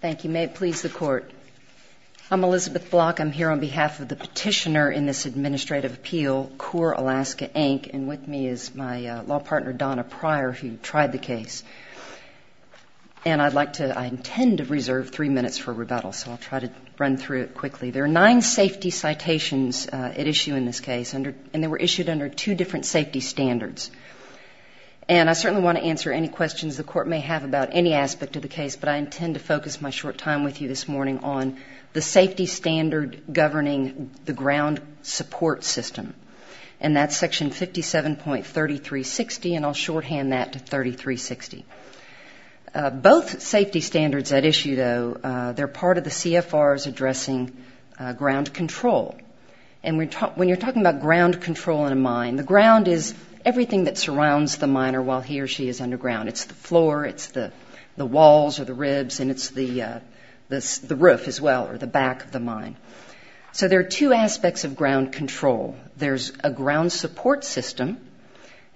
Thank you. May it please the Court. I'm Elizabeth Block. I'm here on behalf of the petitioner in this administrative appeal, Coeur Alaska, Inc., and with me is my law partner, Donna Pryor, who tried the case. And I intend to reserve three minutes for rebuttal, so I'll try to run through it quickly. There are nine safety citations at issue in this case, and they were issued under two different safety standards. And I certainly want to answer any questions the Court may have about any aspect of the case, but I intend to focus my short time with you this morning on the safety standard governing the ground support system. And that's Section 57.3360, and I'll shorthand that to 3360. Both safety standards at issue, though, they're part of the CFRs addressing ground control. And when you're talking about ground control in a mine, the ground is everything that surrounds the miner while he or she is underground. It's the floor, it's the walls or the ribs, and it's the roof as well, or the back of the mine. So there are two aspects of ground control. There's a ground support system,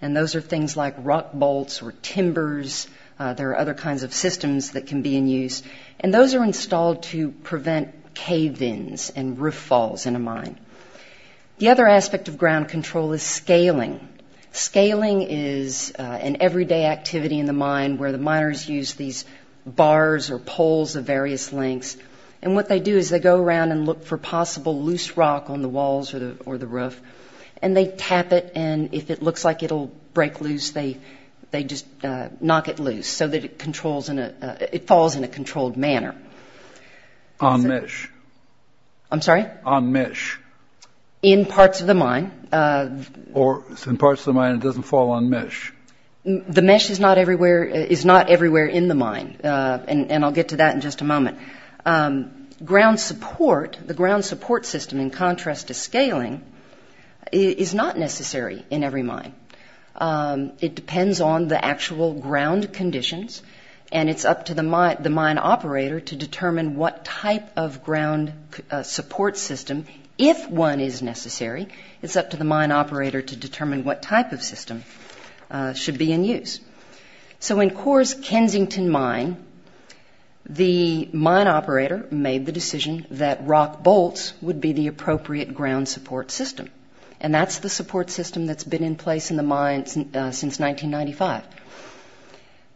and those are things like rock bolts or timbers. There are other kinds of systems that can be in use, and those are installed to prevent cave-ins and roof falls in a mine. The other aspect of ground control is scaling. Scaling is an everyday activity in the mine where the miners use these bars or poles of various lengths, and what they do is they go around and look for possible loose rock on the walls or the roof, and they tap it, and if it looks like it'll break loose, they just knock it loose so that it falls in a controlled manner. On mesh. In parts of the mine. In parts of the mine, it doesn't fall on mesh. The mesh is not everywhere in the mine, and I'll get to that in just a moment. Ground support, the ground support system, in contrast to scaling, is not necessary in every mine. It depends on the actual ground conditions, and it's up to the mine operator to determine what type of ground support system, if one is necessary, it's up to the mine operator to determine what type of system should be in use. So in Coors Kensington Mine, the mine operator made the decision that rock bolts would be the appropriate ground support system, and that's the support system that's been in place in the mine since 1995.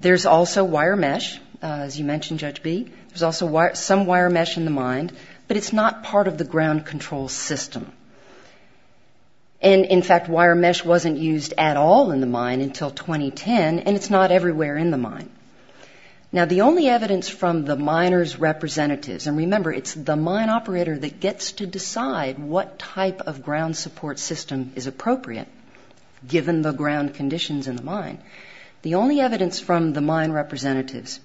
There's also wire mesh, as you mentioned, Judge B. There's also some wire mesh in the mine, but it's not part of the ground control system. And, in fact, wire mesh wasn't used at all in the mine until 2010, and it's not everywhere in the mine. Now, the only evidence from the miners' representatives, and remember, it's the mine operator that gets to decide what type of ground support system is appropriate, given the ground conditions in the mine. The only evidence from the mine representatives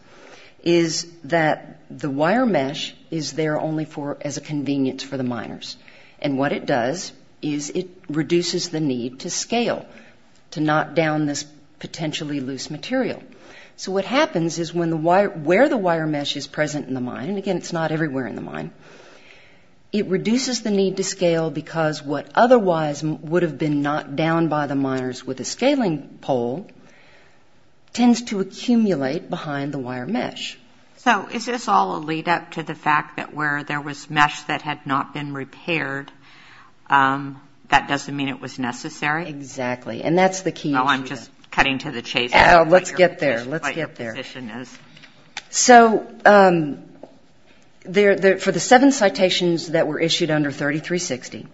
is that the wire mesh is there only as a convenience for the miners. And what it does is it reduces the need to scale, to knock down this potentially loose material. So what happens is where the wire mesh is present in the mine, and, again, it's not everywhere in the mine, it reduces the need to scale because what otherwise would have been knocked down by the miners with a scaling pole tends to accumulate behind the wire mesh. So is this all a lead-up to the fact that where there was mesh that had not been repaired, that doesn't mean it was necessary? Exactly. And that's the key. Oh, I'm just cutting to the chase. Let's get there. Let's get there. So for the seven citations that were issued under 3360,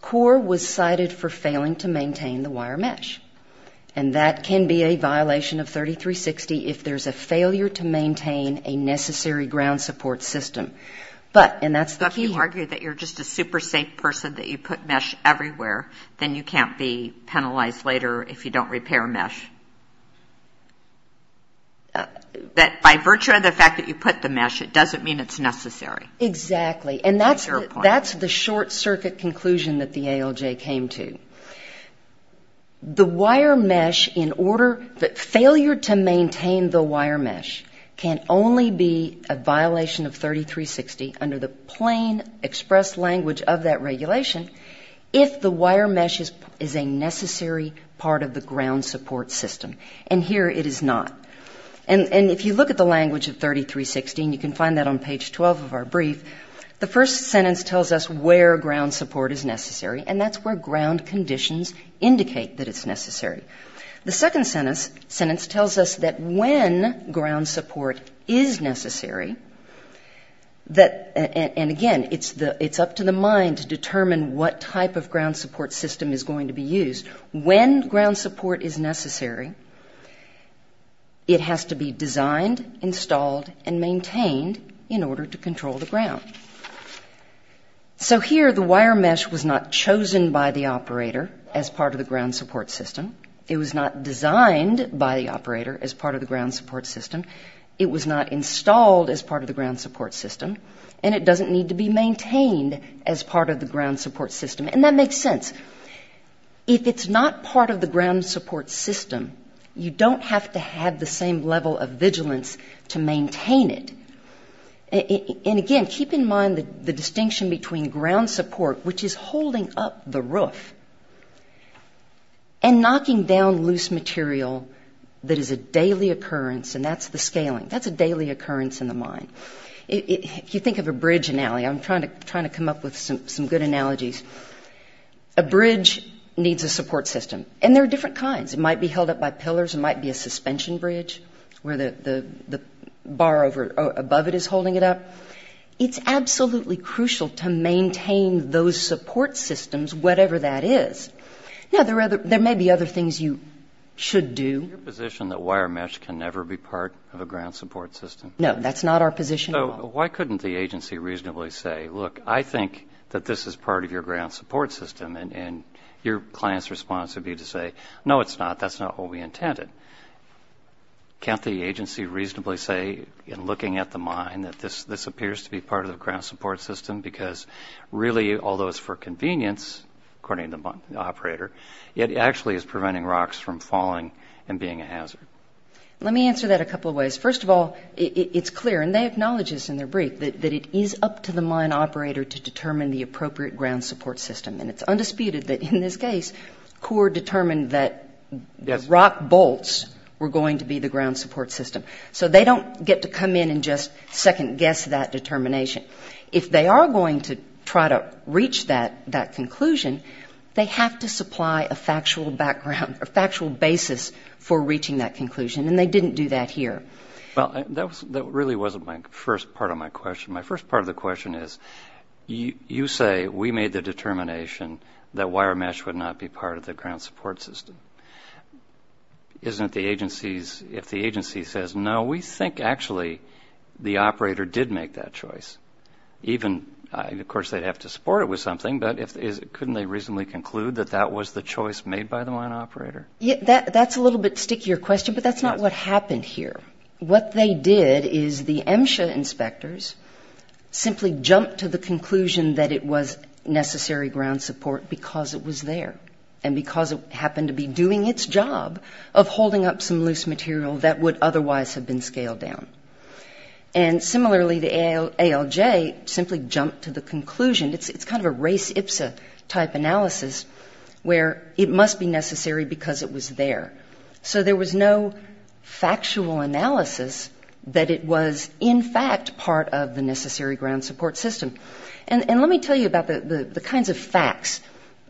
CORE was cited for failing to maintain the wire mesh, and that can be a violation of 3360 if there's a failure to maintain a necessary ground support system. But if you argue that you're just a super-safe person, that you put mesh everywhere, then you can't be penalized later if you don't repair mesh. But by virtue of the fact that you put the mesh, it doesn't mean it's necessary. Exactly. And that's the short-circuit conclusion that the ALJ came to. The wire mesh, in order, the failure to maintain the wire mesh can only be a violation of 3360 under the plain express language of that regulation if the wire mesh is a necessary part of the ground support system. And here it is not. And if you look at the language of 3360, and you can find that on page 12 of our brief, the first sentence tells us where ground support is necessary, and that's where ground conditions indicate that it's necessary. The second sentence tells us that when ground support is necessary, and again, it's up to the mind to determine what type of ground support system is going to be used. When ground support is necessary, it has to be designed, installed, and maintained in order to control the ground. So here the wire mesh was not chosen by the operator as part of the ground support system. It was not designed by the operator as part of the ground support system. It was not installed as part of the ground support system, and it doesn't need to be maintained as part of the ground support system. And that makes sense. If it's not part of the ground support system, you don't have to have the same level of vigilance to maintain it. And again, keep in mind the distinction between ground support, which is holding up the roof, and knocking down loose material that is a daily occurrence, and that's the scaling. That's a daily occurrence in the mind. If you think of a bridge analogy, I'm trying to come up with some good analogies. A bridge needs a support system, and there are different kinds. It might be held up by pillars, it might be a suspension bridge where the bar above it is holding it up. It's absolutely crucial to maintain those support systems, whatever that is. Now, there may be other things you should do. Is it your position that wire mesh can never be part of a ground support system? So why couldn't the agency reasonably say, look, I think that this is part of your ground support system, and your client's response would be to say, no, it's not, that's not what we intended. Can't the agency reasonably say, in looking at the mine, that this appears to be part of the ground support system, because really, although it's for convenience, according to the operator, it actually is preventing rocks from falling and being a hazard? Let me answer that a couple of ways. First of all, it's clear, and they acknowledge this in their brief, that it is up to the mine operator to determine the appropriate ground support system. And it's undisputed that in this case, CORE determined that rock bolts were going to be the ground support system. So they don't get to come in and just second-guess that determination. If they are going to try to reach that conclusion, they have to supply a factual background, a factual basis for reaching that conclusion, and they didn't do that here. Well, that really wasn't my first part of my question. My first part of the question is, you say we made the determination that wire mesh would not be part of the ground support system. If the agency says no, we think actually the operator did make that choice. Of course, they'd have to support it with something, but couldn't they reasonably conclude that that was the choice made by the mine operator? That's a little bit stickier question, but that's not what happened here. What they did is the MSHA inspectors simply jumped to the conclusion that it was necessary ground support because it was there and because it happened to be doing its job of holding up some loose material that would otherwise have been scaled down. And similarly, the ALJ simply jumped to the conclusion, it's kind of a race ipsa type analysis, where it must be necessary because it was there. So there was no factual analysis that it was, in fact, part of the necessary ground support system. And let me tell you about the kinds of facts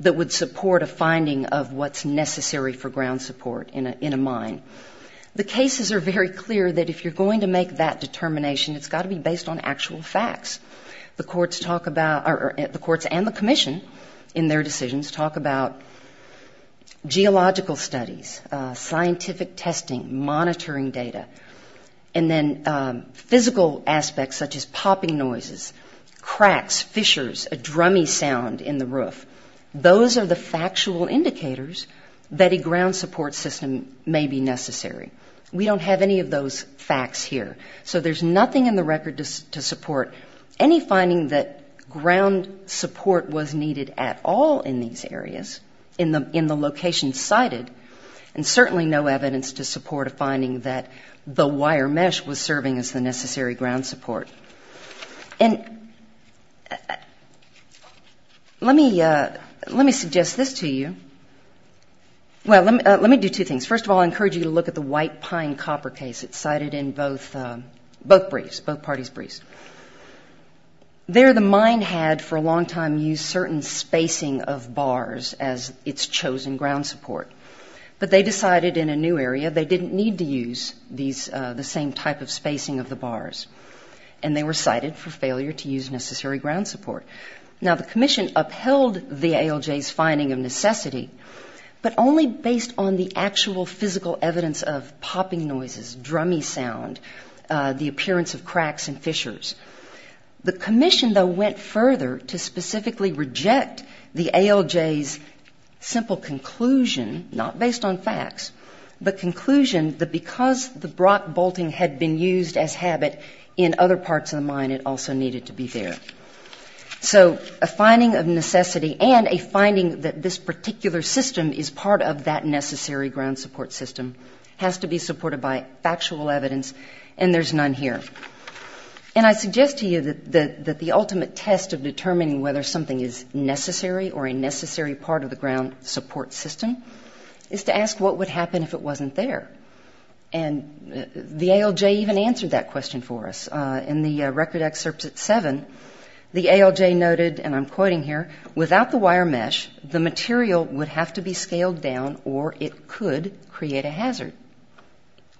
that would support a finding of what's necessary for ground support in a mine. The cases are very clear that if you're going to make that determination, it's got to be based on actual facts. The courts and the commission in their decisions talk about geological studies, scientific testing, monitoring data, and then physical aspects such as popping noises, cracks, fissures, a drummy sound in the roof. Those are the factual indicators that a ground support system may be necessary. We don't have any of those facts here. So there's nothing in the record to support any finding that ground support was needed at all in these areas, in the locations cited, and certainly no evidence to support a finding that the wire mesh was serving as the necessary ground support. And let me suggest this to you. Well, let me do two things. First of all, I encourage you to look at the White Pine copper case. It's cited in both briefs, both parties' briefs. There, the mine had, for a long time, used certain spacing of bars as its chosen ground support. But they decided in a new area they didn't need to use the same type of spacing of the bars, and they were cited for failure to use necessary ground support. Now, the commission upheld the ALJ's finding of necessity, but only based on the actual physical evidence of popping noises, drummy sound, the appearance of cracks and fissures. The commission, though, went further to specifically reject the ALJ's simple conclusion, not based on facts, but conclusion that because the brock bolting had been used as habit in other parts of the mine, it also needed to be there. So a finding of necessity and a finding that this particular system is part of that necessary ground support system has to be supported by factual evidence, and there's none here. And I suggest to you that the ultimate test of determining whether something is necessary or a necessary part of the ground support system is to ask what would happen if it wasn't there. And the ALJ even answered that question for us. In the record excerpt at 7, the ALJ noted, and I'm quoting here, without the wire mesh, the material would have to be scaled down or it could create a hazard.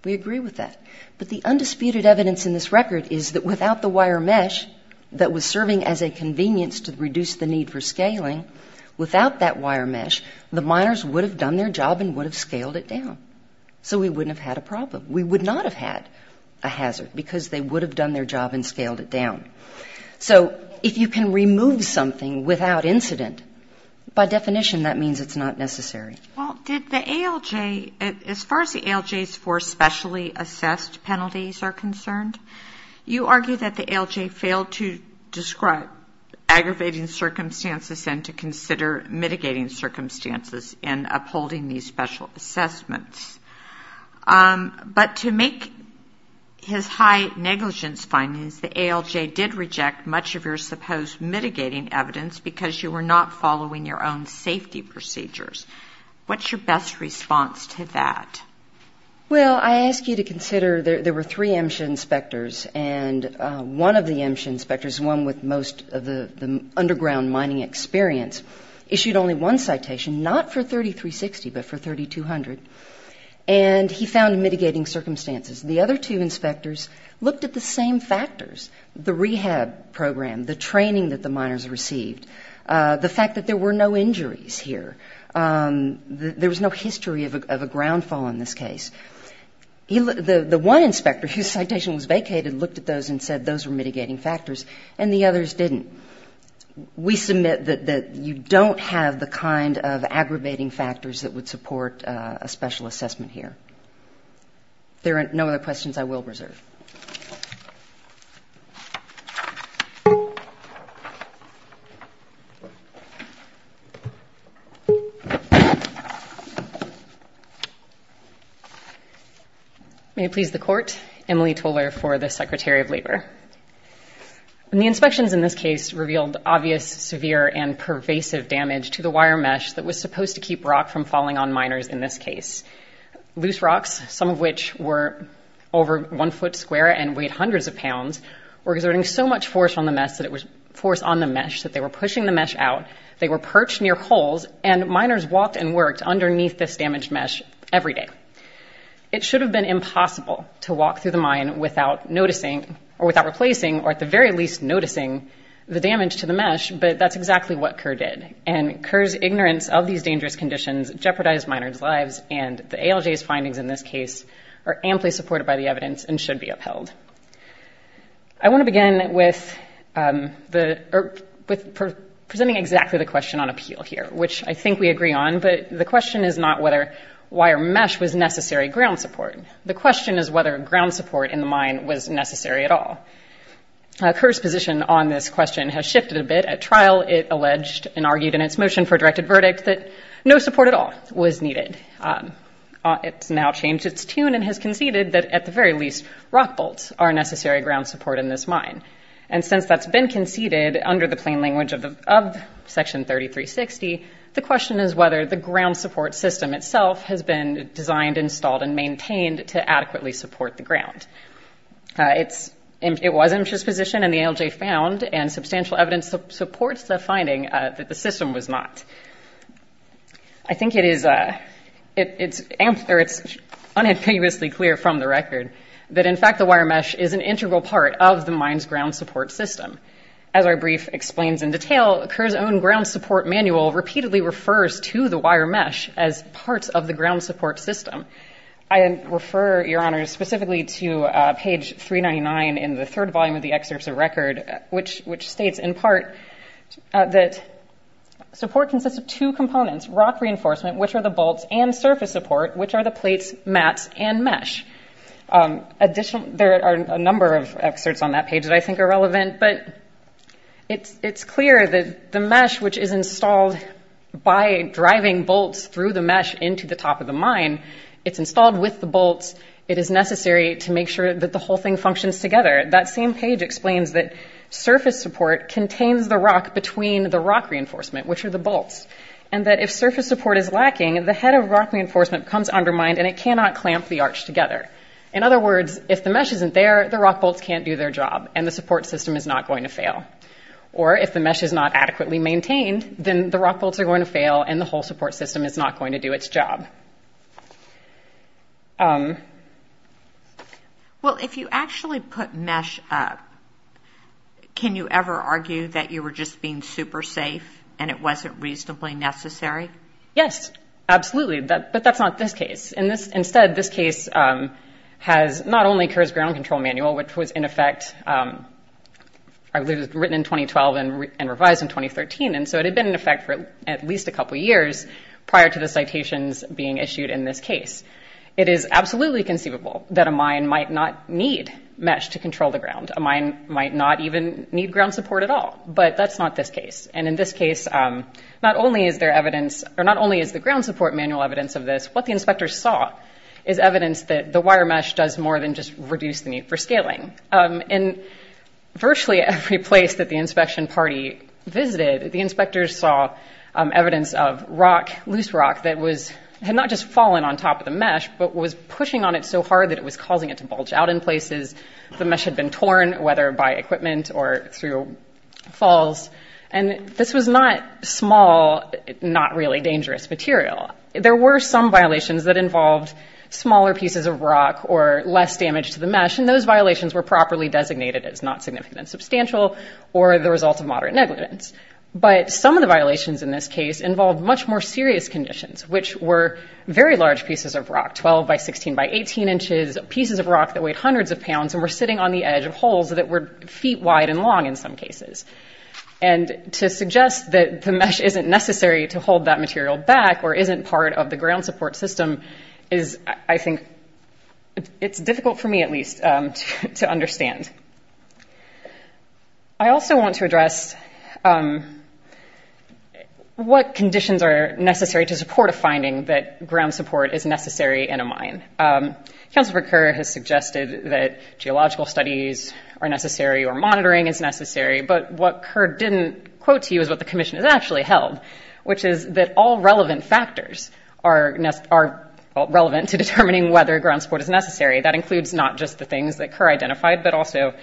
We agree with that. But the undisputed evidence in this record is that without the wire mesh that was serving as a convenience to reduce the need for scaling, without that wire mesh, the miners would have done their job and would have scaled it down. So we wouldn't have had a problem. We would not have had a hazard, because they would have done their job and scaled it down. So if you can remove something without incident, by definition that means it's not necessary. Well, did the ALJ, as far as the ALJ's four specially assessed penalties are concerned, you argue that the ALJ failed to describe aggravating circumstances and to consider mitigating circumstances in upholding these special assessments. But to make his high negligence findings, the ALJ did reject much of your supposed mitigating evidence because you were not following your own safety procedures. What's your best response to that? Well, I ask you to consider there were three MSHA inspectors, and one of the MSHA inspectors, one with most of the underground mining experience, issued only one citation, not for 3360, but for 3200. And he found mitigating circumstances. The other two inspectors looked at the same factors, the rehab program, the training that the miners received, the fact that there were no injuries here, there was no history of a ground fall in this case. The one inspector whose citation was vacated looked at those and said those were mitigating factors, and the others didn't. We submit that you don't have the kind of aggravating factors that would support a special assessment here. There are no other questions I will reserve. Thank you. May it please the Court, Emily Toler for the Secretary of Labor. The inspections in this case revealed obvious, severe, and pervasive damage to the wire mesh that was supposed to keep rock from falling on miners in this case. Loose rocks, some of which were over one foot square and weighed hundreds of pounds, were exerting so much force on the mesh that they were pushing the mesh out, they were perched near holes, and miners walked and worked underneath this damaged mesh every day. It should have been impossible to walk through the mine without replacing, or at the very least noticing, the damage to the mesh, but that's exactly what Kerr did. And Kerr's ignorance of these dangerous conditions jeopardized miners' lives, and the ALJ's findings in this case are amply supported by the evidence and should be upheld. I want to begin with presenting exactly the question on appeal here, which I think we agree on, but the question is not whether wire mesh was necessary ground support. The question is whether ground support in the mine was necessary at all. Kerr's position on this question has shifted a bit. At trial, it alleged and argued in its motion for a directed verdict that no support at all was needed. It's now changed its tune and has conceded that, at the very least, rock bolts are necessary ground support in this mine, and since that's been conceded under the plain language of Section 3360, the question is whether the ground support system itself has been designed, installed, and maintained to adequately support the ground. It was Misha's position, and the ALJ found, and substantial evidence supports the finding that the system was not. I think it's unambiguously clear from the record that, in fact, the wire mesh is an integral part of the mine's ground support system. As our brief explains in detail, Kerr's own ground support manual repeatedly refers to the wire mesh as parts of the ground support system. I refer, Your Honors, specifically to page 399 in the third volume of the excerpts of record, which states in part that support consists of two components, rock reinforcement, which are the bolts, and surface support, which are the plates, mats, and mesh. There are a number of excerpts on that page that I think are relevant, but it's clear that the mesh, which is installed by driving bolts through the mesh into the top of the mine, it's installed with the bolts. It is necessary to make sure that the whole thing functions together. That same page explains that surface support contains the rock between the rock reinforcement, which are the bolts, and that if surface support is lacking, the head of rock reinforcement becomes undermined and it cannot clamp the arch together. In other words, if the mesh isn't there, the rock bolts can't do their job, and the support system is not going to fail. Or if the mesh is not adequately maintained, then the rock bolts are going to fail and the whole support system is not going to do its job. Well, if you actually put mesh up, can you ever argue that you were just being super safe and it wasn't reasonably necessary? Yes, absolutely, but that's not this case. Instead, this case has not only Kerr's Ground Control Manual, which was, in effect, I believe it was written in 2012 and revised in 2013, and so it had been in effect for at least a couple years prior to the citations being issued in this case. It is absolutely conceivable that a mine might not need mesh to control the ground. A mine might not even need ground support at all, but that's not this case. And in this case, not only is the ground support manual evidence of this, what the inspectors saw is evidence that the wire mesh does more than just reduce the need for scaling. In virtually every place that the inspection party visited, the inspectors saw evidence of rock, loose rock, that had not just fallen on top of the mesh, but was pushing on it so hard that it was causing it to bulge out in places. The mesh had been torn, whether by equipment or through falls, and this was not small, not really dangerous material. There were some violations that involved smaller pieces of rock or less damage to the mesh, and those violations were properly designated as not significant and substantial or the result of moderate negligence. But some of the violations in this case involved much more serious conditions, which were very large pieces of rock, 12 by 16 by 18 inches, pieces of rock that weighed hundreds of pounds and were sitting on the edge of holes that were feet wide and long in some cases. And to suggest that the mesh isn't necessary to hold that material back or isn't part of the ground support system is, I think, it's difficult for me at least to understand. I also want to address what conditions are necessary to support a finding that ground support is necessary in a mine. Councilman Kerr has suggested that geological studies are necessary or monitoring is necessary, but what Kerr didn't quote to you is what the commission has actually held, which is that all relevant factors are relevant to determining whether ground support is necessary. That includes not just the things that Kerr identified, but also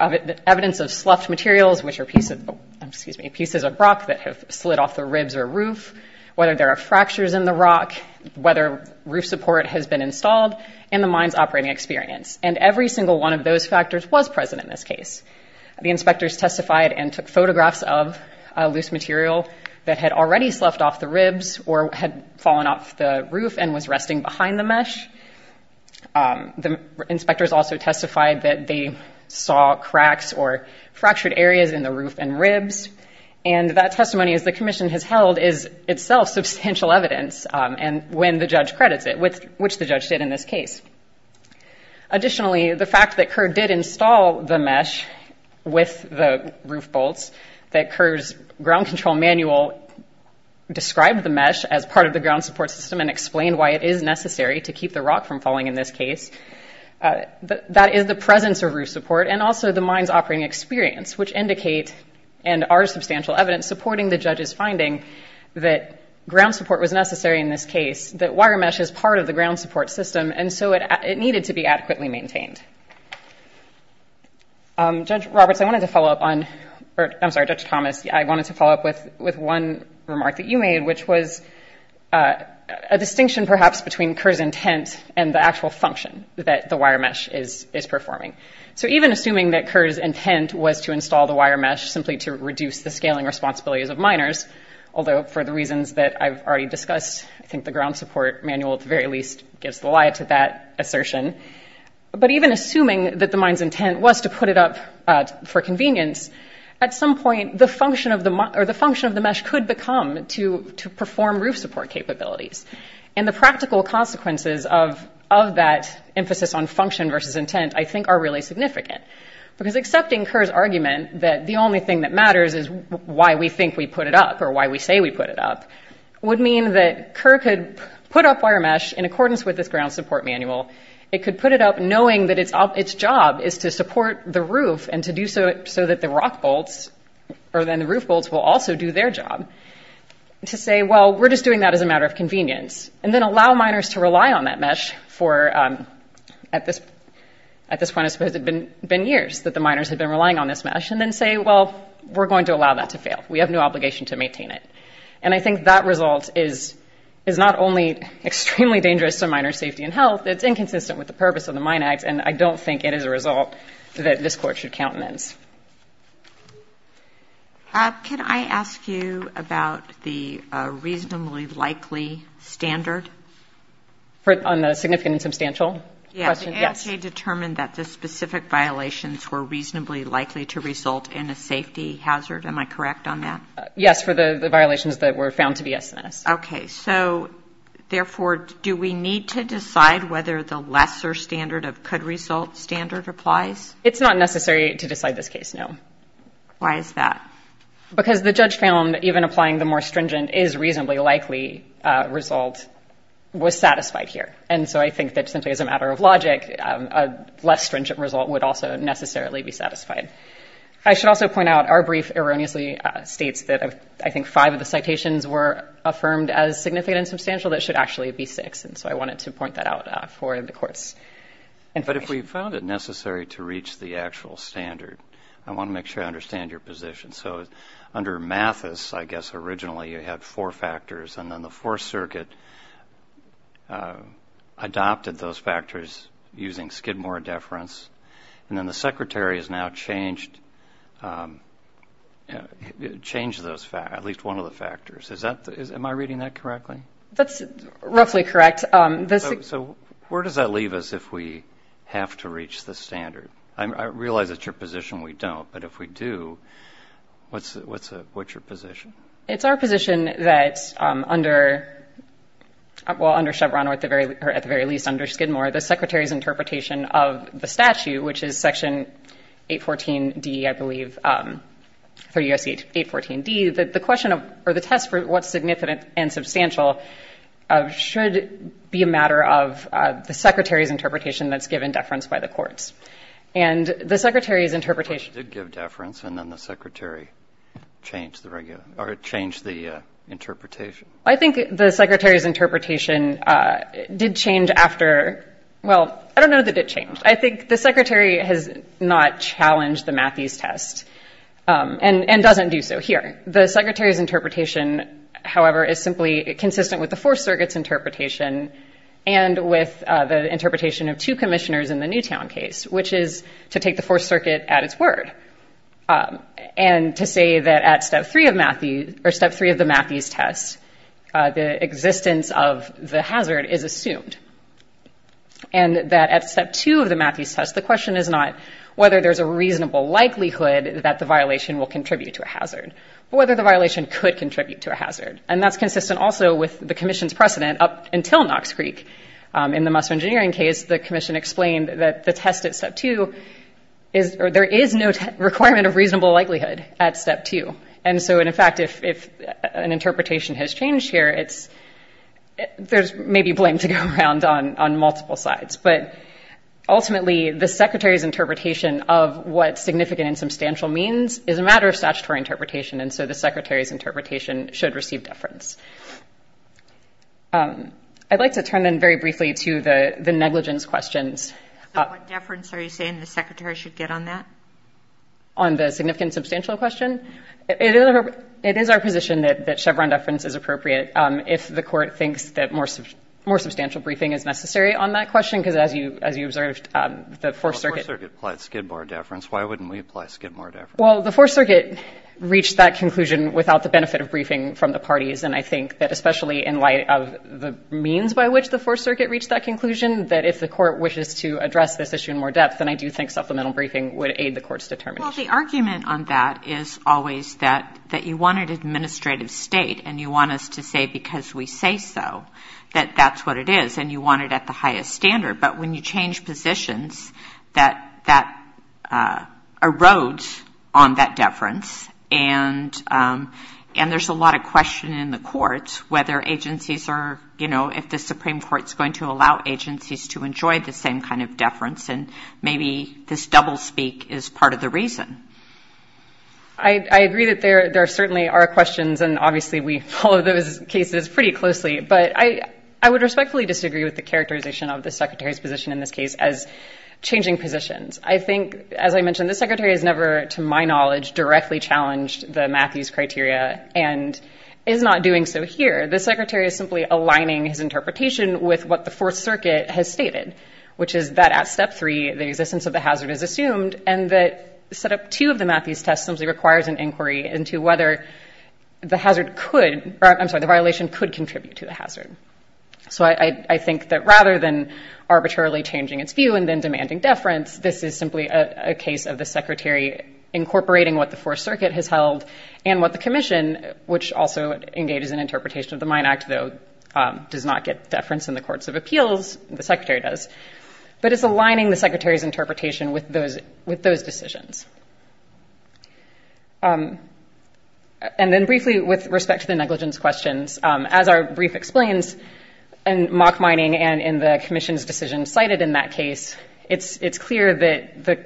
evidence of sloughed materials, which are pieces of rock that have slid off the ribs or roof, whether there are fractures in the rock, whether roof support has been installed in the mine's operating experience. And every single one of those factors was present in this case. The inspectors testified and took photographs of loose material that had already sloughed off the ribs or had fallen off the roof and was resting behind the mesh. The inspectors also testified that they saw cracks or fractured areas in the roof and ribs. And that testimony, as the commission has held, is itself substantial evidence when the judge credits it, which the judge did in this case. Additionally, the fact that Kerr did install the mesh with the roof bolts, that Kerr's ground control manual described the mesh as part of the ground support system and explained why it is necessary to keep the rock from falling in this case, that is the presence of roof support and also the mine's operating experience, which indicate and are substantial evidence supporting the judge's finding that ground support was necessary in this case, that wire mesh is part of the ground support system, and so it needed to be adequately maintained. Judge Roberts, I wanted to follow up on, I'm sorry, Judge Thomas, I wanted to follow up with one remark that you made, which was a distinction perhaps between Kerr's intent and the actual function that the wire mesh is performing. So even assuming that Kerr's intent was to install the wire mesh simply to reduce the scaling responsibilities of miners, although for the reasons that I've already discussed, I think the ground support manual at the very least gives the lie to that assertion, but even assuming that the mine's intent was to put it up for convenience, at some point the function of the mesh could become to perform roof support capabilities, and the practical consequences of that emphasis on function versus intent I think are really significant, because accepting Kerr's argument that the only thing that matters is why we think we put it up or why we say we put it up would mean that Kerr could put up wire mesh in accordance with this ground support manual, it could put it up knowing that its job is to support the roof and to do so so that the rock bolts, or then the roof bolts will also do their job, to say, well, we're just doing that as a matter of convenience, and then allow miners to rely on that mesh for, at this point I suppose it had been years that the miners had been relying on this mesh, and then say, well, we're going to allow that to fail, we have no obligation to maintain it. And I think that result is not only extremely dangerous to miners' safety and health, it's inconsistent with the purpose of the Mine Act, and I don't think it is a result that this Court should countenance. Can I ask you about the reasonably likely standard? On the significant and substantial question? Yes. The ASJ determined that the specific violations were reasonably likely to result in a safety hazard. Am I correct on that? Yes, for the violations that were found to be SNS. Okay. So, therefore, do we need to decide whether the lesser standard of could result standard applies? It's not necessary to decide this case, no. Why is that? Because the judge found even applying the more stringent is reasonably likely result was satisfied here. And so I think that simply as a matter of logic, a less stringent result would also necessarily be satisfied. I should also point out our brief erroneously states that, I think, five of the citations were affirmed as significant and substantial. That should actually be six, and so I wanted to point that out for the Court's information. But if we found it necessary to reach the actual standard, I want to make sure I understand your position. So under Mathis, I guess, originally you had four factors, and then the Fourth Circuit adopted those factors using Skidmore deference, and then the Secretary has now changed at least one of the factors. Am I reading that correctly? That's roughly correct. So where does that leave us if we have to reach the standard? I realize it's your position we don't, but if we do, what's your position? It's our position that under Chevron, or at the very least under Skidmore, the Secretary's interpretation of the statute, which is Section 814D, I believe, 3 U.S.C. 814D, that the question of, or the test for what's significant and substantial, should be a matter of the Secretary's interpretation that's given deference by the courts. And the Secretary's interpretation. Well, it did give deference, and then the Secretary changed the interpretation. I think the Secretary's interpretation did change after, well, I don't know that it changed. I think the Secretary has not challenged the Mathis test and doesn't do so here. The Secretary's interpretation, however, is simply consistent with the Fourth Circuit's interpretation and with the interpretation of two commissioners in the Newtown case, which is to take the Fourth Circuit at its word and to say that at Step 3 of the Mathis test, the existence of the hazard is assumed. And that at Step 2 of the Mathis test, the question is not whether there's a reasonable likelihood that the violation will contribute to a hazard, but whether the violation could contribute to a hazard. And that's consistent also with the commission's precedent up until Knox Creek. In the muscle engineering case, the commission explained that the test at Step 2, there is no requirement of reasonable likelihood at Step 2. And so, in fact, if an interpretation has changed here, there's maybe blame to go around on multiple sides. But ultimately, the Secretary's interpretation of what significant and substantial means is a matter of statutory interpretation, and so the Secretary's interpretation should receive deference. I'd like to turn, then, very briefly to the negligence questions. So what deference are you saying the Secretary should get on that? On the significant and substantial question? It is our position that Chevron deference is appropriate if the Court thinks that more substantial briefing is necessary on that question, because as you observed, the Fourth Circuit... Well, the Fourth Circuit applied Skidmore deference. Why wouldn't we apply Skidmore deference? Well, the Fourth Circuit reached that conclusion without the benefit of briefing from the parties, and I think that especially in light of the means by which the Fourth Circuit reached that conclusion, that if the Court wishes to address this issue in more depth, then I do think supplemental briefing would aid the Court's determination. Well, the argument on that is always that you want an administrative state, and you want us to say because we say so that that's what it is, and you want it at the highest standard. But when you change positions, that erodes on that deference, and there's a lot of question in the courts whether agencies are, you know, if the Supreme Court is going to allow agencies to enjoy the same kind of deference, and maybe this doublespeak is part of the reason. I agree that there certainly are questions, and obviously we follow those cases pretty closely, but I would respectfully disagree with the characterization of the Secretary's position in this case as changing positions. I think, as I mentioned, the Secretary has never, to my knowledge, directly challenged the Matthews criteria and is not doing so here. The Secretary is simply aligning his interpretation with what the Fourth Circuit has stated, which is that at Step 3, the existence of the hazard is assumed, and that Setup 2 of the Matthews test simply requires an inquiry into whether the hazard could, I'm sorry, the violation could contribute to the hazard. So I think that rather than arbitrarily changing its view and then demanding deference, this is simply a case of the Secretary incorporating what the Fourth Circuit has held and what the Commission, which also engages in interpretation of the Mine Act, though does not get deference in the courts of appeals, the Secretary does, but it's aligning the Secretary's interpretation with those decisions. And then briefly with respect to the negligence questions, as our brief explains in mock mining and in the Commission's decision cited in that case, it's clear that the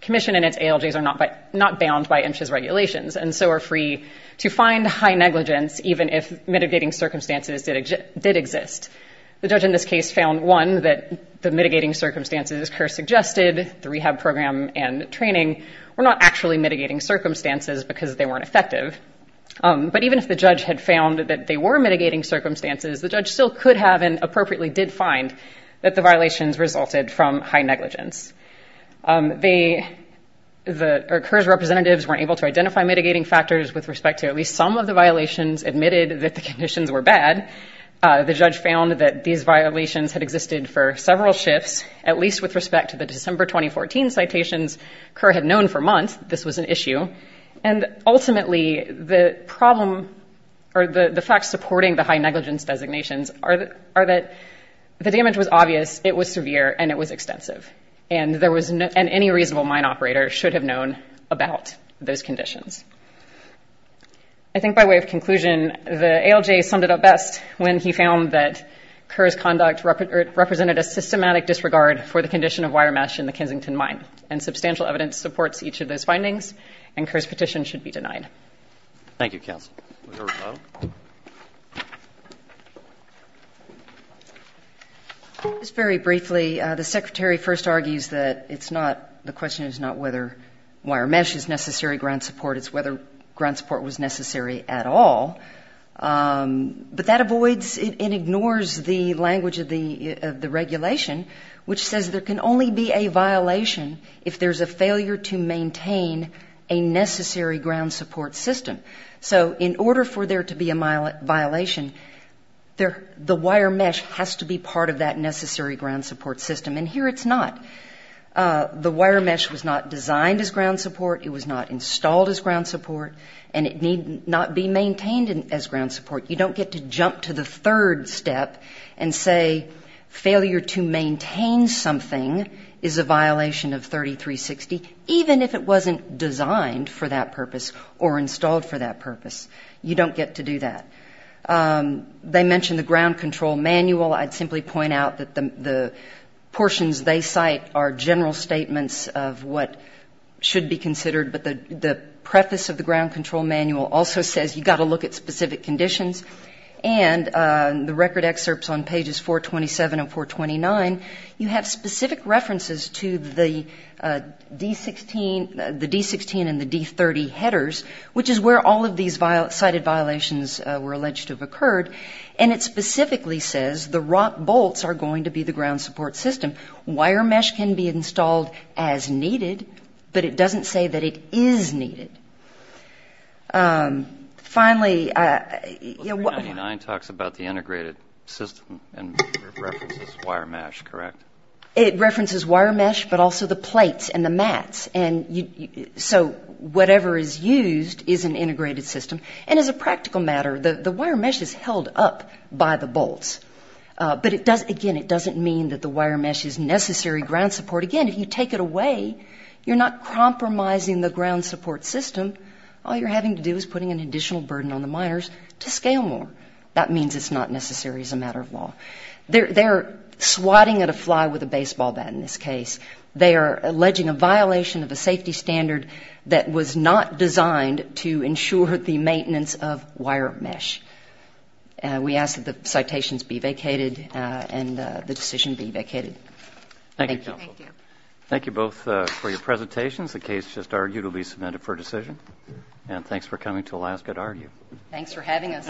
Commission and its ALJs are not bound by MSHA's regulations and so are free to find high negligence even if mitigating circumstances did exist. The judge in this case found, one, that the mitigating circumstances as Kerr suggested, the rehab program and training, were not actually mitigating circumstances because they weren't effective. But even if the judge had found that they were mitigating circumstances, the judge still could have and appropriately did find that the violations resulted from high negligence. Kerr's representatives weren't able to identify mitigating factors with respect to at least some of the violations admitted that the conditions were bad. The judge found that these violations had existed for several shifts, at least with respect to the December 2014 citations Kerr had known for months this was an issue. And ultimately, the problem or the facts supporting the high negligence designations are that the damage was obvious, it was severe, and it was extensive. And any reasonable mine operator should have known about those conditions. I think by way of conclusion, the ALJ summed it up best when he found that Kerr's conduct represented a systematic disregard for the condition of wire mesh in the Kensington mine. And substantial evidence supports each of those findings, and Kerr's petition should be denied. Thank you, counsel. Just very briefly, the Secretary first argues that it's not, the question is not whether wire mesh is necessary ground support, it's whether ground support was necessary at all. But that avoids, it ignores the language of the regulation, which says there can only be a violation if there's a failure to maintain a necessary ground support system. So in order for there to be a violation, the wire mesh has to be part of that necessary ground support system. And here it's not. The wire mesh was not designed as ground support, it was not installed as ground support, and it need not be maintained as ground support. You don't get to jump to the third step and say failure to maintain something is a violation of 3360, even if it wasn't designed for that purpose or installed for that purpose. You don't get to do that. They mention the ground control manual. I'd simply point out that the portions they cite are general statements of what should be considered, but the preface of the ground control manual also says you've got to look at specific conditions. And the record excerpts on pages 427 and 429, you have specific references to the D-16 and the D-30 headers, which is where all of these cited violations were alleged to have occurred, and it specifically says the rock bolts are going to be the ground support system. Wire mesh can be installed as needed, but it doesn't say that it is needed. Finally... Well, 399 talks about the integrated system and references wire mesh, correct? It references wire mesh, but also the plates and the mats. So whatever is used is an integrated system, and as a practical matter, the wire mesh is held up by the bolts. But again, it doesn't mean that the wire mesh is necessary ground support. Again, if you take it away, you're not compromising the ground support system. All you're having to do is putting an additional burden on the miners to scale more. That means it's not necessary as a matter of law. They're swatting at a fly with a baseball bat in this case. They are alleging a violation of a safety standard that was not designed to ensure the maintenance of wire mesh. We ask that the citations be vacated and the decision be vacated. Thank you. Thank you both for your presentations. The case just argued will be submitted for decision, and thanks for coming to Alaska to argue. Thanks for having us.